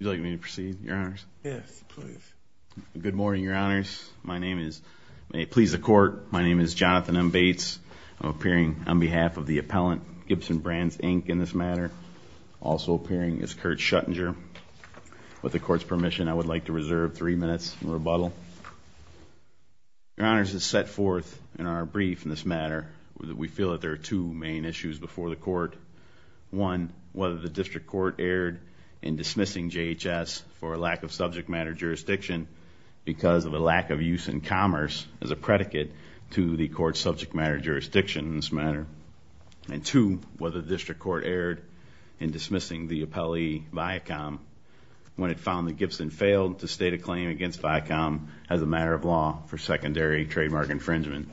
Good morning, Your Honors. My name is Jonathan M. Bates. I'm appearing on behalf of the Appellant Gibson Brands, Inc. in this matter. Also appearing is Kurt Schuttinger. With the Court's permission, I would like to reserve three minutes in rebuttal. Your Honors, as set forth in our brief in front of the Court. One, whether the District Court erred in dismissing JHS for a lack of subject matter jurisdiction because of a lack of use in commerce as a predicate to the Court's subject matter jurisdiction in this matter. And two, whether the District Court erred in dismissing the appellee, Viacom, when it found that Gibson failed to state a claim against Viacom as a matter of law for secondary trademark infringement.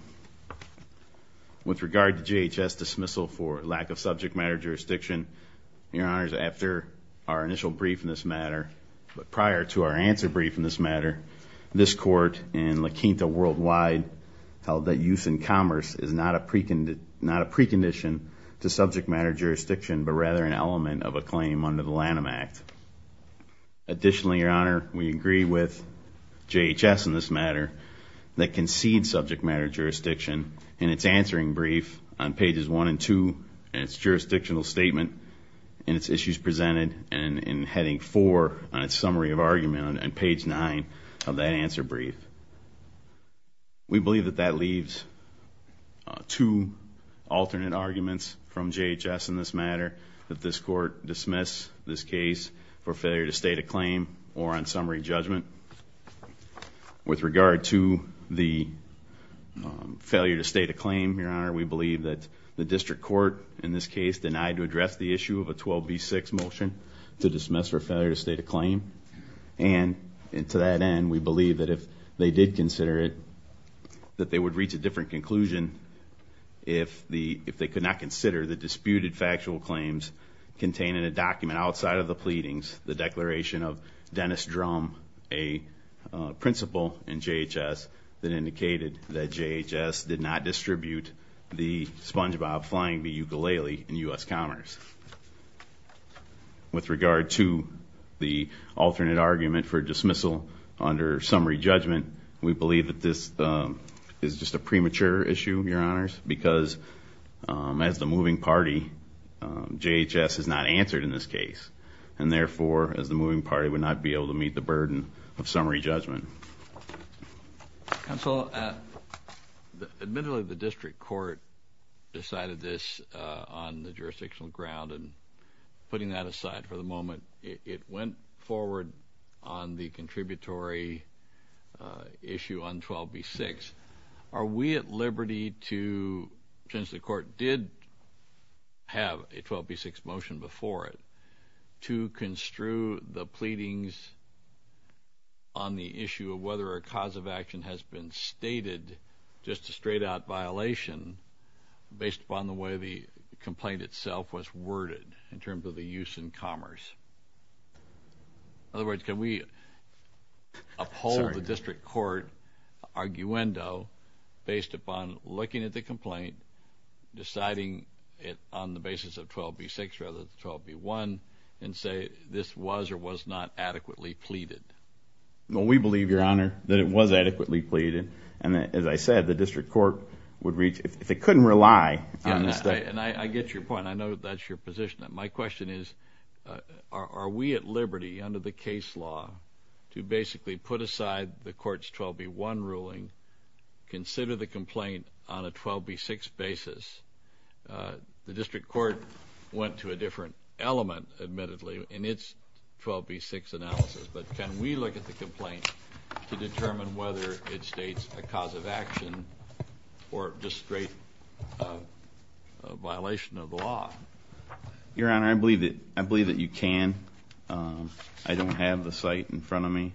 With regard to JHS dismissal for lack of subject matter jurisdiction, Your Honors, after our initial brief in this matter, but prior to our answer brief in this matter, this Court in La Quinta worldwide held that use in commerce is not a precondition to subject matter jurisdiction, but rather an element of a claim under the Lanham Act. Additionally, Your Honor, we agree with JHS in this matter that concedes subject matter jurisdiction in its answering brief on pages one and two in its jurisdictional statement, in its issues presented, and in heading four on its summary of argument on page nine of that answer brief. We believe that that leaves two alternate arguments from JHS in this matter, that this Court dismiss this case for failure to state a claim or on summary judgment. With regard to the failure to state a claim, Your Honor, the District Court in this case denied to address the issue of a 12B6 motion to dismiss for failure to state a claim. And to that end, we believe that if they did consider it, that they would reach a different conclusion if they could not consider the disputed factual claims contained in a document outside of the pleadings, the declaration of Dennis Drum, a principal in JHS that indicated that JHS did not distribute the sponge bob flying the ukulele in U.S. commerce. With regard to the alternate argument for dismissal under summary judgment, we believe that this is just a premature issue, Your Honors, because as the moving party, JHS has not answered in this case. And therefore, as the moving party would not be able to meet the burden of summary judgment. Counsel, admittedly, the District Court decided this on the jurisdictional ground, and putting that aside for the moment, it went forward on the contributory issue on 12B6. Are we at liberty to, since the Court did have a 12B6 motion before it, to construe the pleadings on the issue of whether a cause of action has been stated, just a straight-out violation based upon the way the complaint itself was worded in terms of the use in commerce? In the District Court arguendo, based upon looking at the complaint, deciding it on the basis of 12B6 rather than 12B1, and say this was or was not adequately pleaded? We believe, Your Honor, that it was adequately pleaded. And as I said, the District Court would reach, if it couldn't rely on this... And I get your point. I know that's your position. My question is, are we at liberty under the case law to basically put aside the Court's 12B1 ruling, consider the complaint on a 12B6 basis? The District Court went to a different element, admittedly, in its 12B6 analysis. But can we look at the complaint to determine whether it states a cause of action or just straight violation of the law? Your Honor, I believe that you can. I don't have the site in front of me.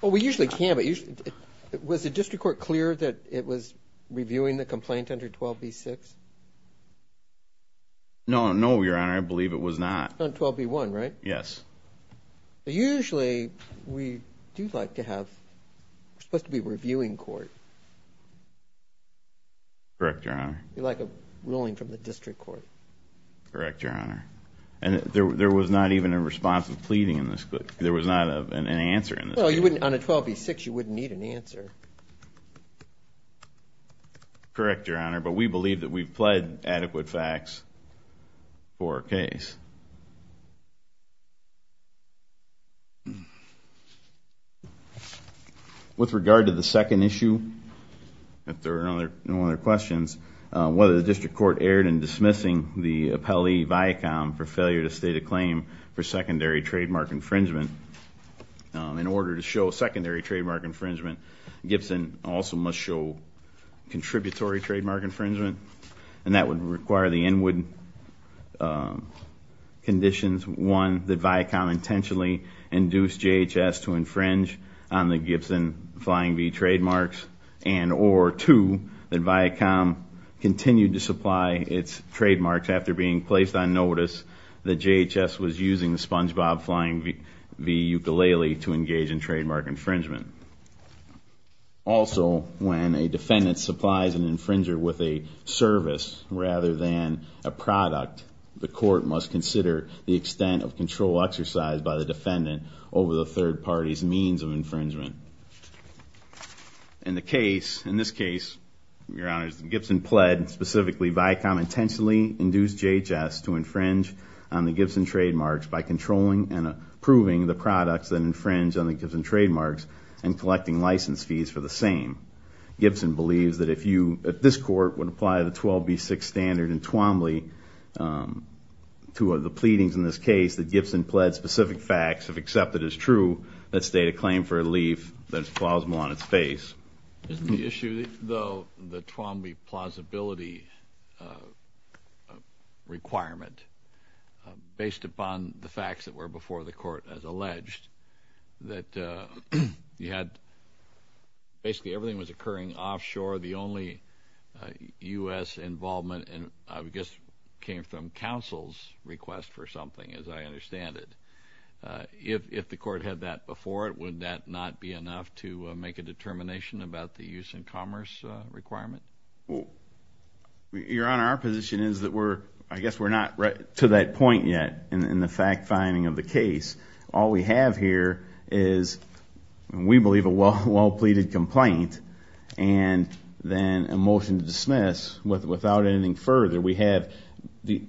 Well, we usually can, but was the District Court clear that it was reviewing the complaint under 12B6? No, Your Honor, I believe it was not. Not 12B1, right? Yes. Usually, we do like to have, it's supposed to be a reviewing court. Correct, Your Honor. Like a ruling from the District Court. Correct, Your Honor. And there was not even a response of pleading in this case. There was not an answer in this case. Well, on a 12B6, you wouldn't need an answer. Correct, Your Honor, but we believe that we've pled adequate facts for our case. With regard to the second issue, if there are no other questions, whether the District Court erred in dismissing the appellee, Viacom, for failure to state a claim for secondary trademark infringement. In order to show secondary trademark infringement, Gibson also must show contributory trademark infringement. And that would require the inward conditions, one, that Viacom intentionally induced JHS to infringe on the Gibson Flying V trademarks, and or two, that Viacom continued to supply its trademarks after being placed on notice that JHS was using the Spongebob Flying V ukulele to engage in trademark infringement. Also, when a defendant supplies an infringer with a service rather than a product, the court must consider the extent of control exercised by the defendant over the third party's means of infringement. In the case, in this case, Your Honor, Gibson pled, specifically, Viacom intentionally induced JHS to infringe on the Gibson trademarks by controlling and approving the products that infringe on the Gibson trademarks and collecting license fees for the same. Gibson believes that if you, at this court, would apply the 12B6 standard in Twombly to the pleadings in this case, that Gibson pled specific facts, if accepted as true, that state a claim for a leaf that is plausible on its face. Isn't the issue, though, the Twombly plausibility requirement, based upon the facts that were before the court as alleged, that you had, basically, everything was occurring offshore, the only U.S. involvement, I guess, came from counsel's request for something, as I understand it. If the court had that before it, would that not be enough to make a determination about the use and commerce requirement? Well, Your Honor, our position is that we're, I guess, we're not to that point yet in the fact-finding of the case. All we have here is, we believe, a well-pleaded complaint and then a motion to dismiss without anything further. We have the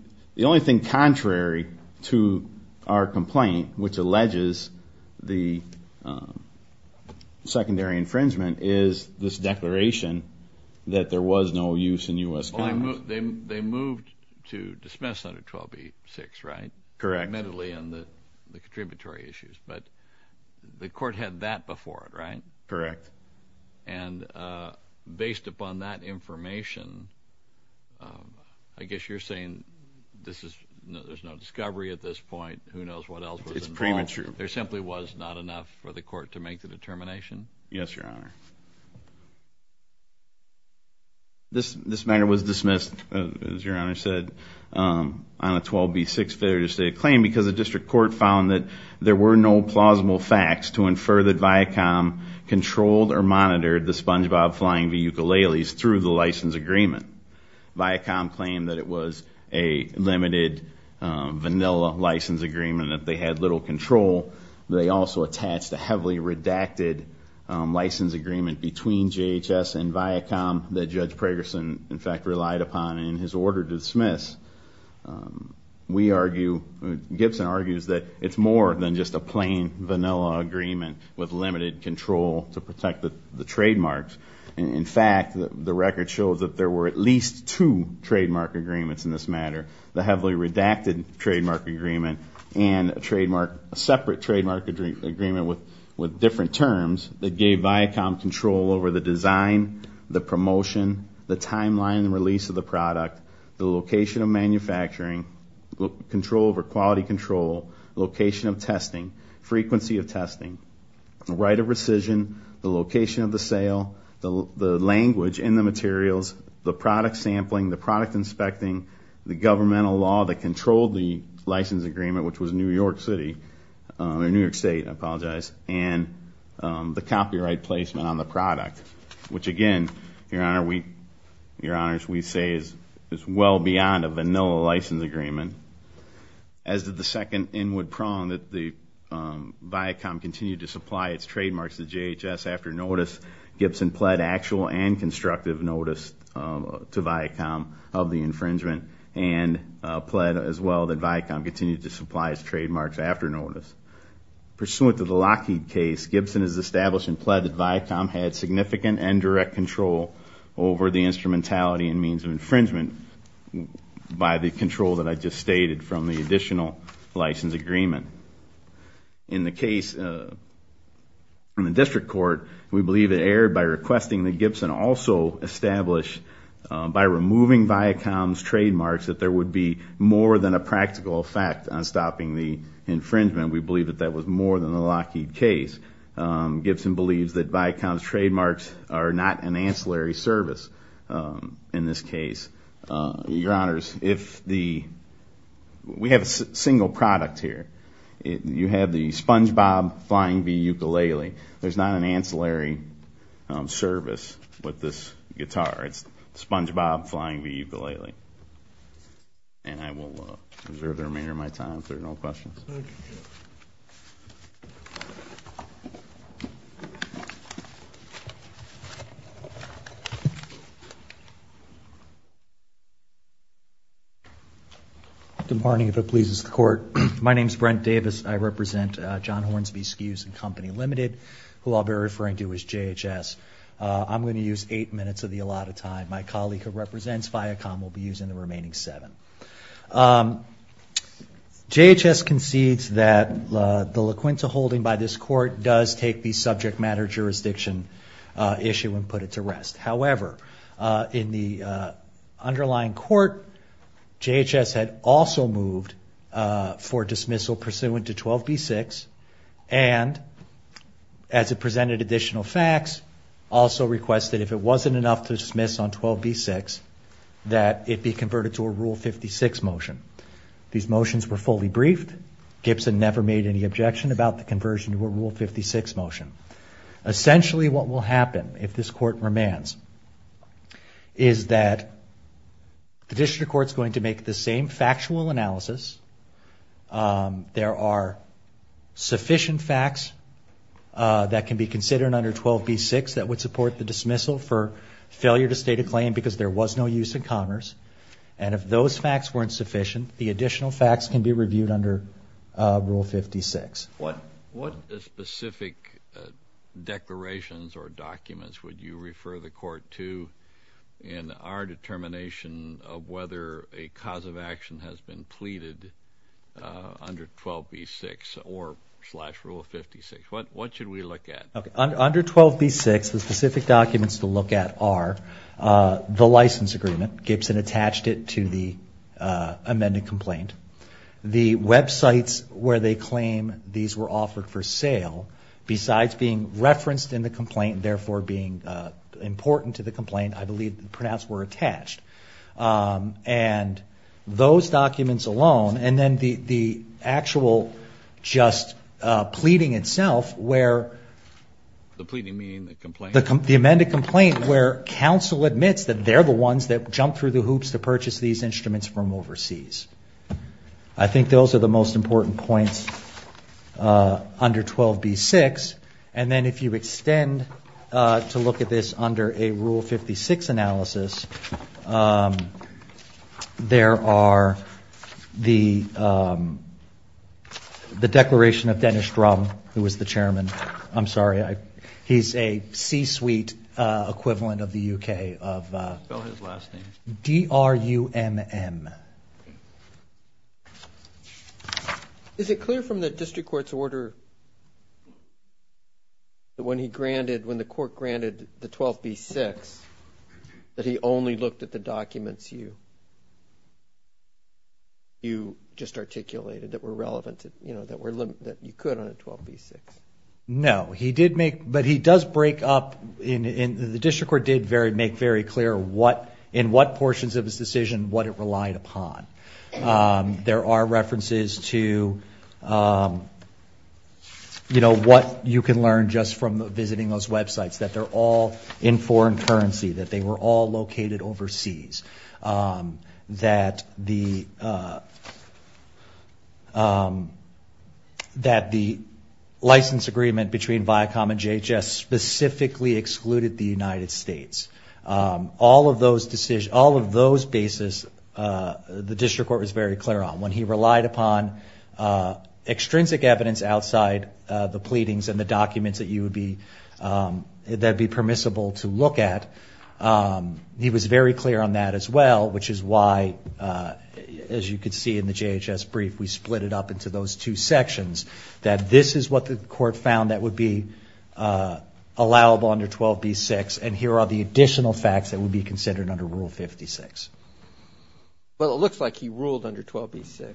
only thing contrary to our complaint, which alleges the secondary infringement, is this declaration that there was no use in U.S. They moved to dismiss under 12B6, right? Correct. Admittedly, on the contributory issues. But the court had that before it, right? Correct. And based upon that information, I guess you're saying there's no discovery at this point, who knows what else was involved? It's premature. There simply was not enough for the court to make the determination? Yes, Your Honor. This matter was dismissed, as Your Honor said, on a 12B6 failure to state a claim, because the district court found that there were no plausible facts to infer that Viacom controlled or monitored the Spongebob Flying V. Ukuleles through the license agreement. Viacom claimed that it was a limited vanilla license agreement, that they had little control. They also attached a heavily redacted license agreement between JHS and Viacom that Judge Pragerson, in fact, relied upon in his order to dismiss. We argue, Gibson argues, that it's more than just a plain vanilla agreement with limited control to protect the trademarks. In fact, the record shows that there were at least two trademark agreements in this matter, the heavily redacted trademark agreement and a separate trademark agreement with different terms that gave Viacom control over the design, the promotion, the timeline and release of the product, the location of manufacturing, control over quality control, location of testing, frequency of testing, right of rescission, the location of the sale, the language in the materials, the product sampling, the product inspecting, the governmental law that controlled the license agreement, which was New York City, or New York State, I apologize, and the copyright placement on the product, which again, your honors, we say is well beyond a vanilla license agreement. As did the second inward prong that Viacom continued to supply its trademarks to JHS after notice, Gibson pled actual and constructive notice to Viacom of the infringement and pled as well that Viacom continued to supply its trademarks after notice. Pursuant to the Lockheed case, Gibson has established and pled that Viacom had significant and direct control over the instrumentality and means of infringement by the control that I just stated from the additional license agreement. In the case from the district court, we believe it erred by requesting that Gibson also establish, by removing Viacom's trademarks, that there would be more than a practical effect on stopping the infringement. We believe that that was more than the Lockheed case. Gibson believes that Viacom's trademarks are not an ancillary service in this case. Your honors, if the, we have a single product here. You have the SpongeBob Flying V ukulele. There's not an ancillary service with this guitar. It's SpongeBob Flying V ukulele. And I will reserve the remainder of my time if there are no questions. My name is Brent Davis. I represent John Hornsby SKUs and Company Limited, who I'll be referring to as JHS. I'm going to use eight minutes of the allotted time. My colleague who represents Viacom will be using the remaining seven. JHS concedes that the LaQuinta holding by this court does take the subject matter jurisdiction issue and put it to rest. However, in the underlying court, JHS had also moved for dismissal pursuant to 12b-6, and as it presented additional facts, also requested if it wasn't enough to dismiss on 12b-6, that it be converted to a Rule 56 motion. These motions were fully briefed. Gibson never made any objection about the conversion to a Rule 56 motion. Essentially what will happen, if this court remands, is that the district court is going to make the same factual analysis. There are sufficient facts that can be considered under 12b-6 that would support the dismissal for failure to state a claim because there was no use in commerce. And if those facts weren't sufficient, the additional facts can be reviewed under Rule 56. What specific declarations or documents would you refer the court to in our determination of whether a cause of action has been pleaded under 12b-6 or slash Rule 56? What should we look at? Under 12b-6, the specific documents to look at are the license agreement. Gibson attached it to the amended complaint. The websites where they claim these were offered for sale, besides being referenced in the complaint, therefore being important to the complaint, I believe pronounced were attached. And those documents alone, and then the actual just pleading itself where... The pleading meaning the complaint? The amended complaint where counsel admits that they're the ones that jumped through the hoops to purchase these instruments from overseas. I think those are the most important points under 12b-6. And then if you extend to look at this under a Rule 56 analysis, there are the declaration of Dennis Drum, who was the chairman. I'm sorry, he's a C-suite equivalent of the U.K. Spell his last name. D-r-u-m-m. Is it clear from the district court's order when the court granted the 12b-6 that he only looked at the documents you just articulated that were relevant, that you could on a 12b-6? No. But he does break up, and the district court did make very clear in what portions of his decision what it relied upon. There are references to what you can learn just from visiting those websites, that they're all in foreign currency, that they were all located overseas, that the license agreement between Viacom and JHS specifically excluded the United States. All of those basis, the district court was very clear on. When he relied upon extrinsic evidence outside the pleadings and the documents that would be permissible to look at, he was very clear on that as well, which is why, as you can see in the JHS brief, we split it up into those two sections, that this is what the court found that would be allowable under 12b-6, and here are the additional facts that would be considered under Rule 56. Well, it looks like he ruled under 12b-6.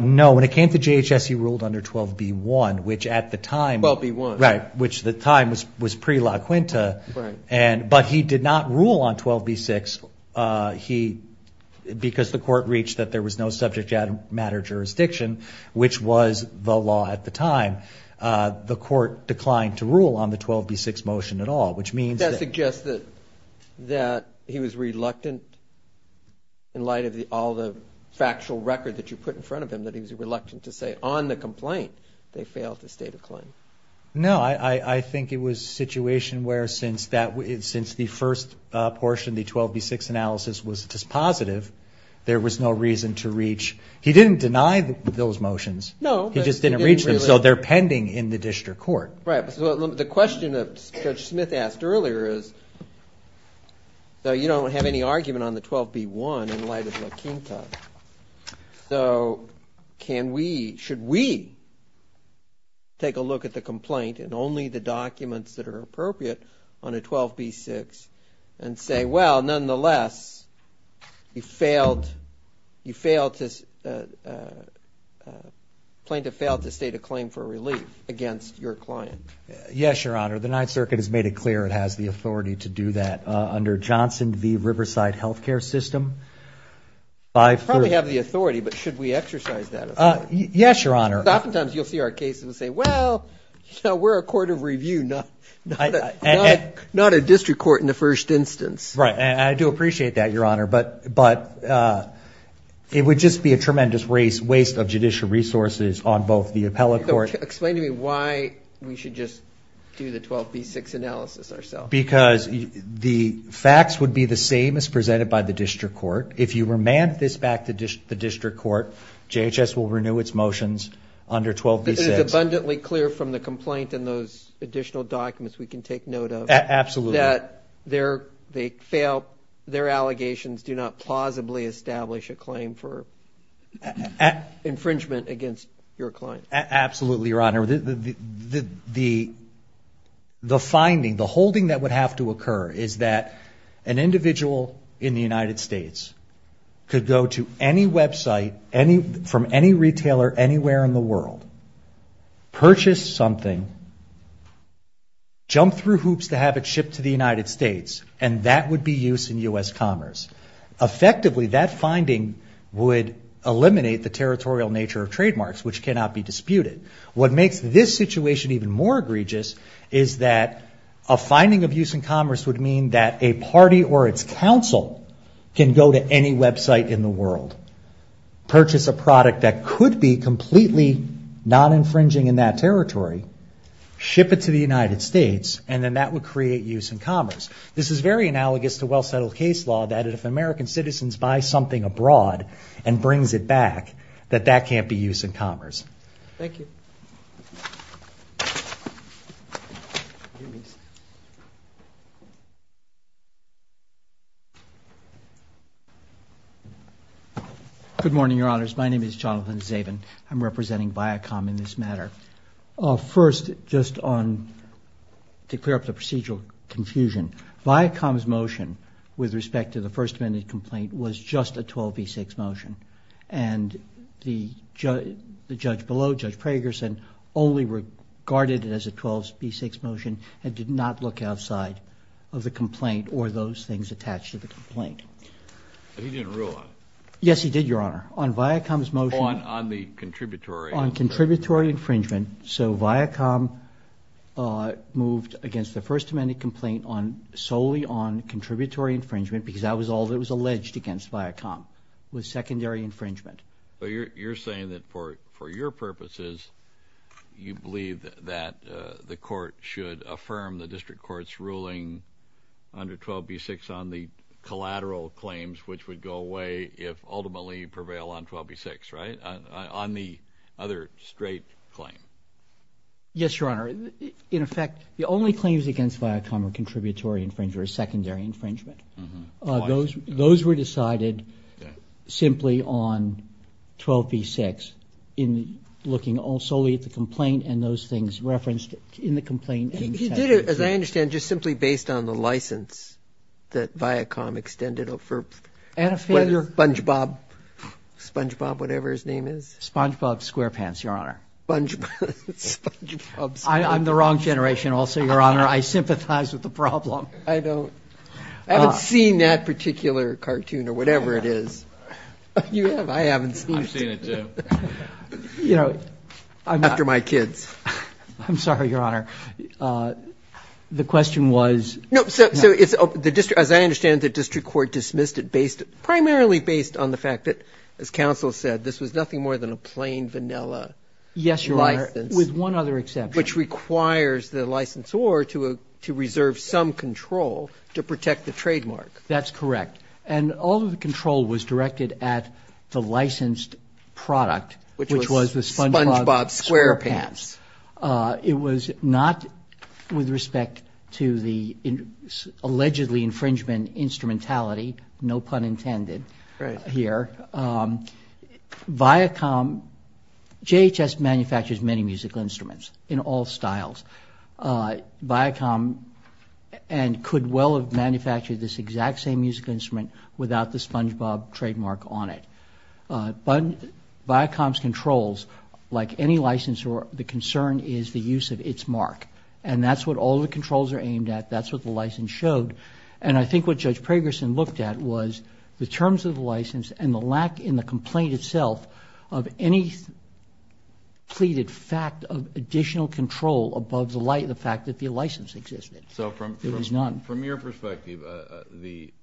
No. When it came to JHS, he ruled under 12b-1, which at the time... 12b-1. Right, which at the time was pre-La Quinta, but he did not rule on 12b-6. Because the court reached that there was no subject matter jurisdiction, which was the law at the time, the court declined to rule on the 12b-6 motion at all, which means that... That suggests that he was reluctant, in light of all the factual record that you put in front of him, that he was reluctant to say on the complaint they failed to state a claim. No. I think it was a situation where since the first portion, the 12b-6 analysis, was dispositive, there was no reason to reach. He didn't deny those motions. No. He just didn't reach them, so they're pending in the district court. Right. The question that Judge Smith asked earlier is, you don't have any argument on the 12b-1 in light of La Quinta. So should we take a look at the complaint and only the documents that are appropriate on a 12b-6 and say, well, nonetheless, you failed to state a claim for relief against your client? Yes, Your Honor. The Ninth Circuit has made it clear it has the authority to do that. Under Johnson v. Riverside Health Care System. We probably have the authority, but should we exercise that authority? Yes, Your Honor. Because oftentimes you'll see our cases and say, well, we're a court of review, not a district court in the first instance. Right, and I do appreciate that, Your Honor, but it would just be a tremendous waste of judicial resources on both the appellate court. Explain to me why we should just do the 12b-6 analysis ourselves. Because the facts would be the same as presented by the district court. If you remand this back to the district court, JHS will renew its motions under 12b-6. It is abundantly clear from the complaint and those additional documents we can take note of. Absolutely. That their allegations do not plausibly establish a claim for infringement against your client. Absolutely, Your Honor. The finding, the holding that would have to occur, is that an individual in the United States could go to any website from any retailer anywhere in the world, purchase something, jump through hoops to have it shipped to the United States, and that would be used in U.S. commerce. Effectively, that finding would eliminate the territorial nature of trademarks, which cannot be disputed. What makes this situation even more egregious is that a finding of use in commerce would mean that a party or its counsel can go to any website in the world, purchase a product that could be completely non-infringing in that territory, ship it to the United States, and then that would create use in commerce. This is very analogous to well-settled case law, that if American citizens buy something abroad and brings it back, that that can't be used in commerce. Thank you. Good morning, Your Honors. My name is Jonathan Zabin. I'm representing Viacom in this matter. First, just to clear up the procedural confusion, Viacom's motion with respect to the First Amendment complaint was just a 12B6 motion, and the judge below, Judge Pragerson, only regarded it as a 12B6 motion and did not look outside of the complaint or those things attached to the complaint. He didn't rule on it? Yes, he did, Your Honor. On Viacom's motion? On the contributory. On contributory infringement. So Viacom moved against the First Amendment complaint solely on contributory infringement because that was all that was alleged against Viacom was secondary infringement. But you're saying that for your purposes, you believe that the court should affirm the district court's ruling under 12B6 on the collateral claims which would go away if ultimately prevail on 12B6, right? On the other straight claim. Yes, Your Honor. In effect, the only claims against Viacom are contributory infringement and contributory secondary infringement. Those were decided simply on 12B6 in looking solely at the complaint and those things referenced in the complaint. He did it, as I understand, just simply based on the license that Viacom extended for SpongeBob, SpongeBob, whatever his name is. SpongeBob SquarePants, Your Honor. SpongeBob SquarePants. I'm the wrong generation also, Your Honor. I sympathize with the problem. I don't. I haven't seen that particular cartoon or whatever it is. You have. I haven't seen it. I've seen it, too. You know, I'm not. After my kids. I'm sorry, Your Honor. The question was. No, so it's, as I understand it, the district court dismissed it based, primarily based on the fact that, as counsel said, this was nothing more than a plain vanilla license. Yes, Your Honor, with one other exception. Which requires the licensor to reserve some control to protect the trademark. That's correct. And all of the control was directed at the licensed product, which was the SpongeBob SquarePants. It was not with respect to the allegedly infringement instrumentality, no pun intended here. Viacom, JHS manufactures many musical instruments in all styles. Viacom could well have manufactured this exact same musical instrument without the SpongeBob trademark on it. Viacom's controls, like any licensor, the concern is the use of its mark. And that's what all the controls are aimed at. That's what the license showed. And I think what Judge Pragerson looked at was the terms of the license and the lack in the complaint itself of any pleaded fact of additional control above the fact that the license existed. So from your perspective, the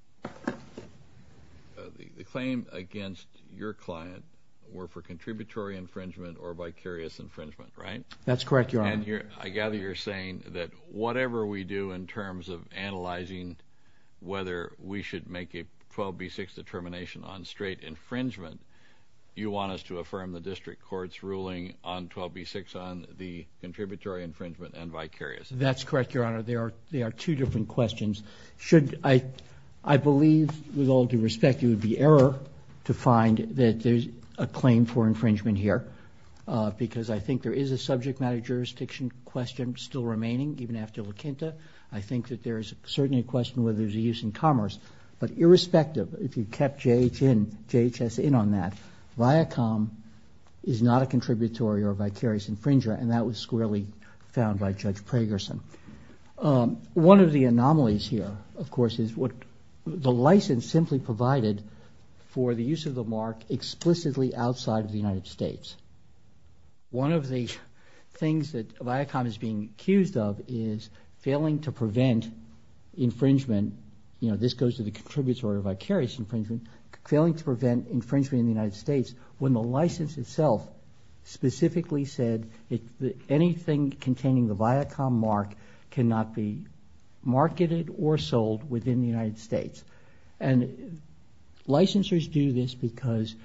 claim against your client were for contributory infringement or vicarious infringement, right? That's correct, Your Honor. And I gather you're saying that whatever we do in terms of analyzing whether we should make a 12B6 determination on straight infringement, you want us to affirm the district court's ruling on 12B6 on the contributory infringement and vicarious? That's correct, Your Honor. They are two different questions. I believe, with all due respect, it would be error to find that there's a claim for infringement here because I think there is a subject matter jurisdiction question still remaining, even after LaQuinta. I think that there is certainly a question whether there's a use in commerce. But irrespective, if you kept JHS in on that, Viacom is not a contributory or vicarious infringer, and that was squarely found by Judge Pragerson. One of the anomalies here, of course, is the license simply provided for the use of the mark explicitly outside of the United States. One of the things that Viacom is being accused of is failing to prevent infringement, you know, this goes to the contributory or vicarious infringement, failing to prevent infringement in the United States when the license itself specifically said that anything containing the Viacom mark cannot be marketed or sold within the United States. And licensors do this because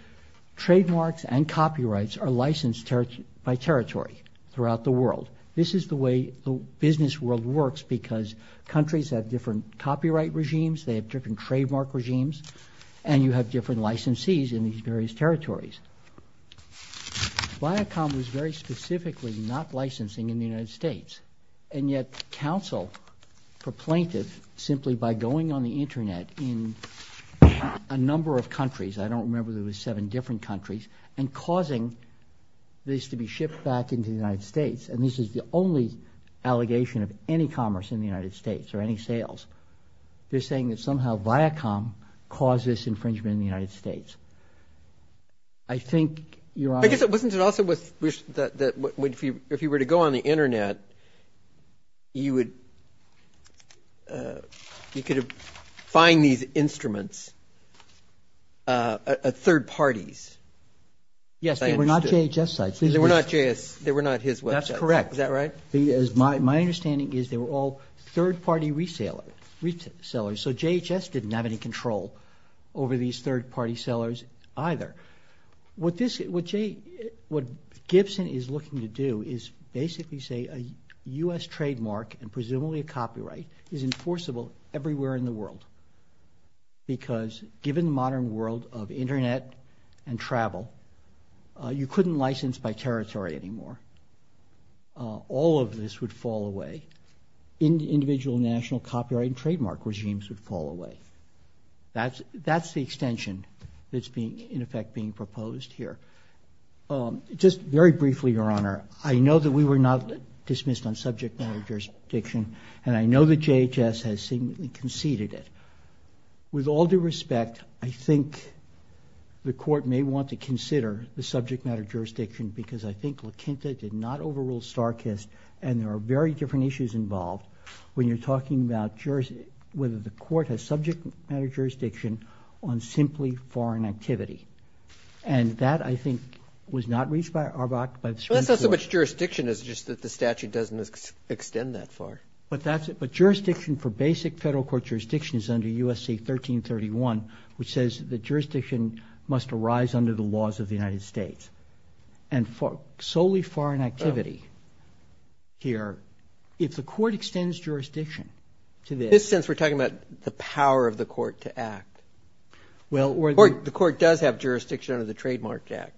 trademarks and copyrights are licensed by territory throughout the world. This is the way the business world works because countries have different copyright regimes, they have different trademark regimes, and you have different licensees in these various territories. Viacom was very specifically not licensing in the United States, and yet counsel proclaimed it simply by going on the internet in a number of countries, I don't remember if there were seven different countries, and causing this to be shipped back into the United States, and this is the only allegation of any commerce in the United States or any sales. They're saying that somehow Viacom caused this infringement in the United States. I think you're on. I guess wasn't it also that if you were to go on the internet, you could find these instruments at third parties. Yes, they were not JHS sites. They were not his websites. That's correct. Is that right? My understanding is they were all third-party resellers, so JHS didn't have any control over these third-party sellers either. What Gibson is looking to do is basically say a U.S. trademark and presumably a copyright is enforceable everywhere in the world because given the modern world of internet and travel, you couldn't license by territory anymore. All of this would fall away. Individual national copyright and trademark regimes would fall away. That's the extension that's in effect being proposed here. Just very briefly, Your Honor, I know that we were not dismissed on subject matter jurisdiction, and I know that JHS has seemingly conceded it. With all due respect, I think the court may want to consider the subject matter jurisdiction because I think LaQuinta did not overrule StarKist, and there are very different issues involved when you're talking about whether the court has subject matter jurisdiction on simply foreign activity. And that, I think, was not reached by the Supreme Court. Well, that's not so much jurisdiction. It's just that the statute doesn't extend that far. But that's it. But jurisdiction for basic federal court jurisdiction is under U.S.C. 1331, which says that jurisdiction must arise under the laws of the United States. And solely foreign activity here, if the court extends jurisdiction to this. In this sense, we're talking about the power of the court to act. Well, or the court does have jurisdiction under the Trademark Act.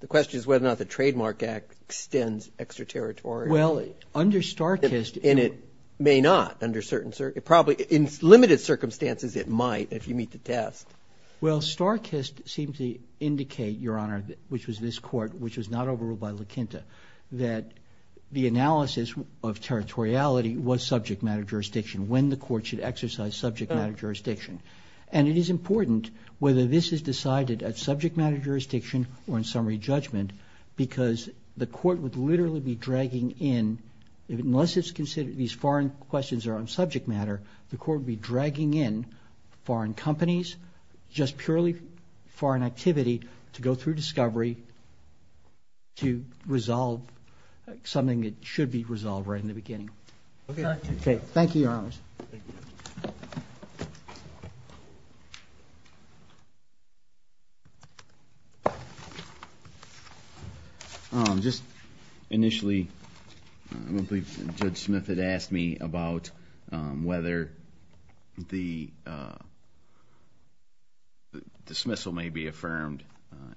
The question is whether or not the Trademark Act extends extraterritorial. Well, under StarKist. And it may not under certain circumstances. Probably in limited circumstances, it might if you meet the test. Well, StarKist seemed to indicate, Your Honor, which was this court, which was not overruled by LaQuinta, that the analysis of territoriality was subject matter jurisdiction, when the court should exercise subject matter jurisdiction. And it is important whether this is decided at subject matter jurisdiction or in summary judgment because the court would literally be dragging in, unless it's considered these foreign questions are on subject matter, the court would be dragging in foreign companies, just purely foreign activity to go through discovery to resolve something that should be resolved right in the beginning. Thank you, Your Honors. Thank you. Just initially, Judge Smith had asked me about whether the dismissal may be affirmed,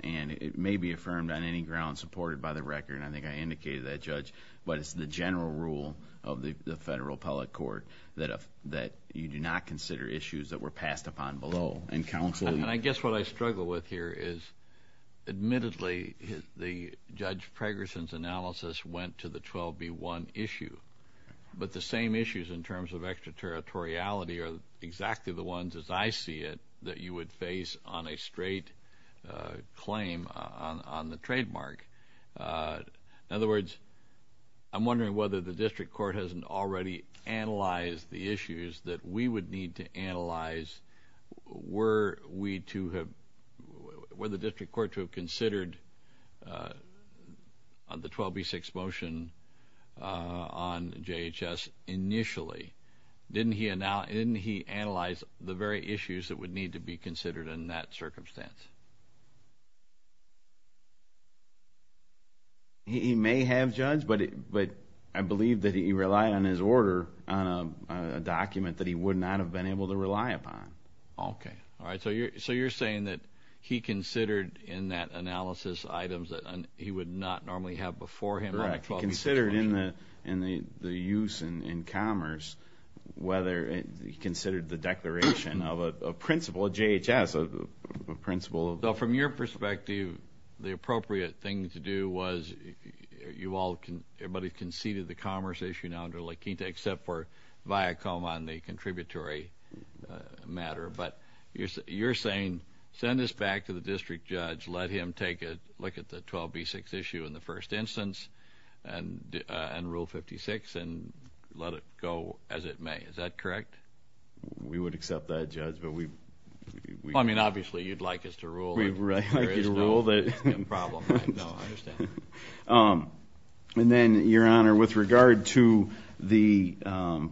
and it may be affirmed on any grounds supported by the record, but it's the general rule of the Federal Appellate Court that you do not consider issues that were passed upon below. And counsel... And I guess what I struggle with here is, admittedly, Judge Pregerson's analysis went to the 12B1 issue, but the same issues in terms of extraterritoriality are exactly the ones, as I see it, that you would face on a straight claim on the trademark. In other words, I'm wondering whether the district court hasn't already analyzed the issues that we would need to analyze. Were we to have... Were the district court to have considered the 12B6 motion on JHS initially? Didn't he analyze the very issues that would need to be considered in that circumstance? He may have, Judge, but I believe that he relied on his order on a document that he would not have been able to rely upon. Okay. All right. So you're saying that he considered in that analysis items that he would not normally have before him on the 12B6 motion. Correct. He considered in the use in commerce whether he considered the declaration of a principle, a JHS principle. So from your perspective, the appropriate thing to do was you all... Everybody conceded the commerce issue now under Laquita except for Viacom on the contributory matter. But you're saying send this back to the district judge, let him take a look at the 12B6 issue in the first instance and Rule 56 and let it go as it may. Is that correct? We would accept that, Judge, but we... Well, I mean, obviously you'd like us to rule that there is no problem. No, I understand. And then, Your Honor, with regard to the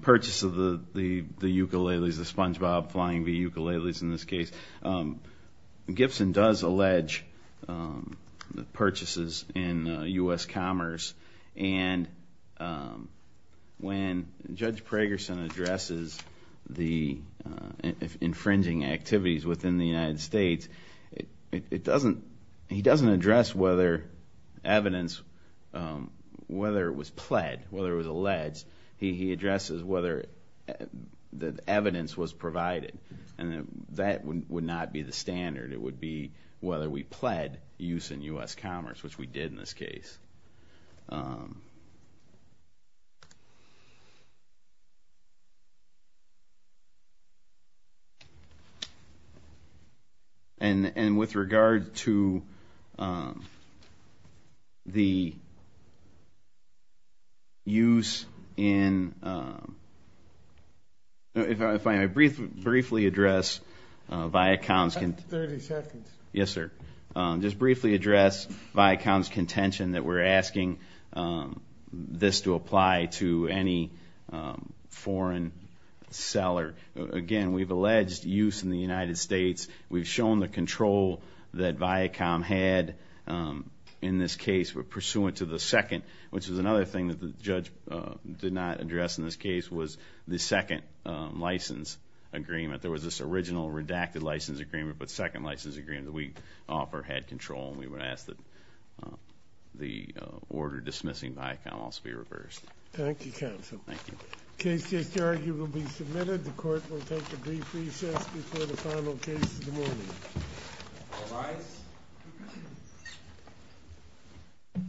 purchase of the ukuleles, the SpongeBob Flying V ukuleles in this case, Gibson does allege purchases in U.S. Commerce. And when Judge Pragerson addresses the infringing activities within the United States, he doesn't address whether evidence, whether it was pled, whether it was alleged. He addresses whether the evidence was provided, and that would not be the standard. It would be whether we pled use in U.S. Commerce, which we did in this case. And with regard to the use in... If I may briefly address Viacom's... Thirty seconds. Yes, sir. Just briefly address Viacom's contention that we're asking this to apply to any foreign seller. Again, we've alleged use in the United States. We've shown the control that Viacom had in this case pursuant to the second, which was another thing that the judge did not address in this case, was the second license agreement. There was this original redacted license agreement, but the second license agreement that we offer had control, and we would ask that the order dismissing Viacom also be reversed. Thank you, counsel. Thank you. The case is here. You will be submitted. The court will take a brief recess before the final case of the morning. All rise.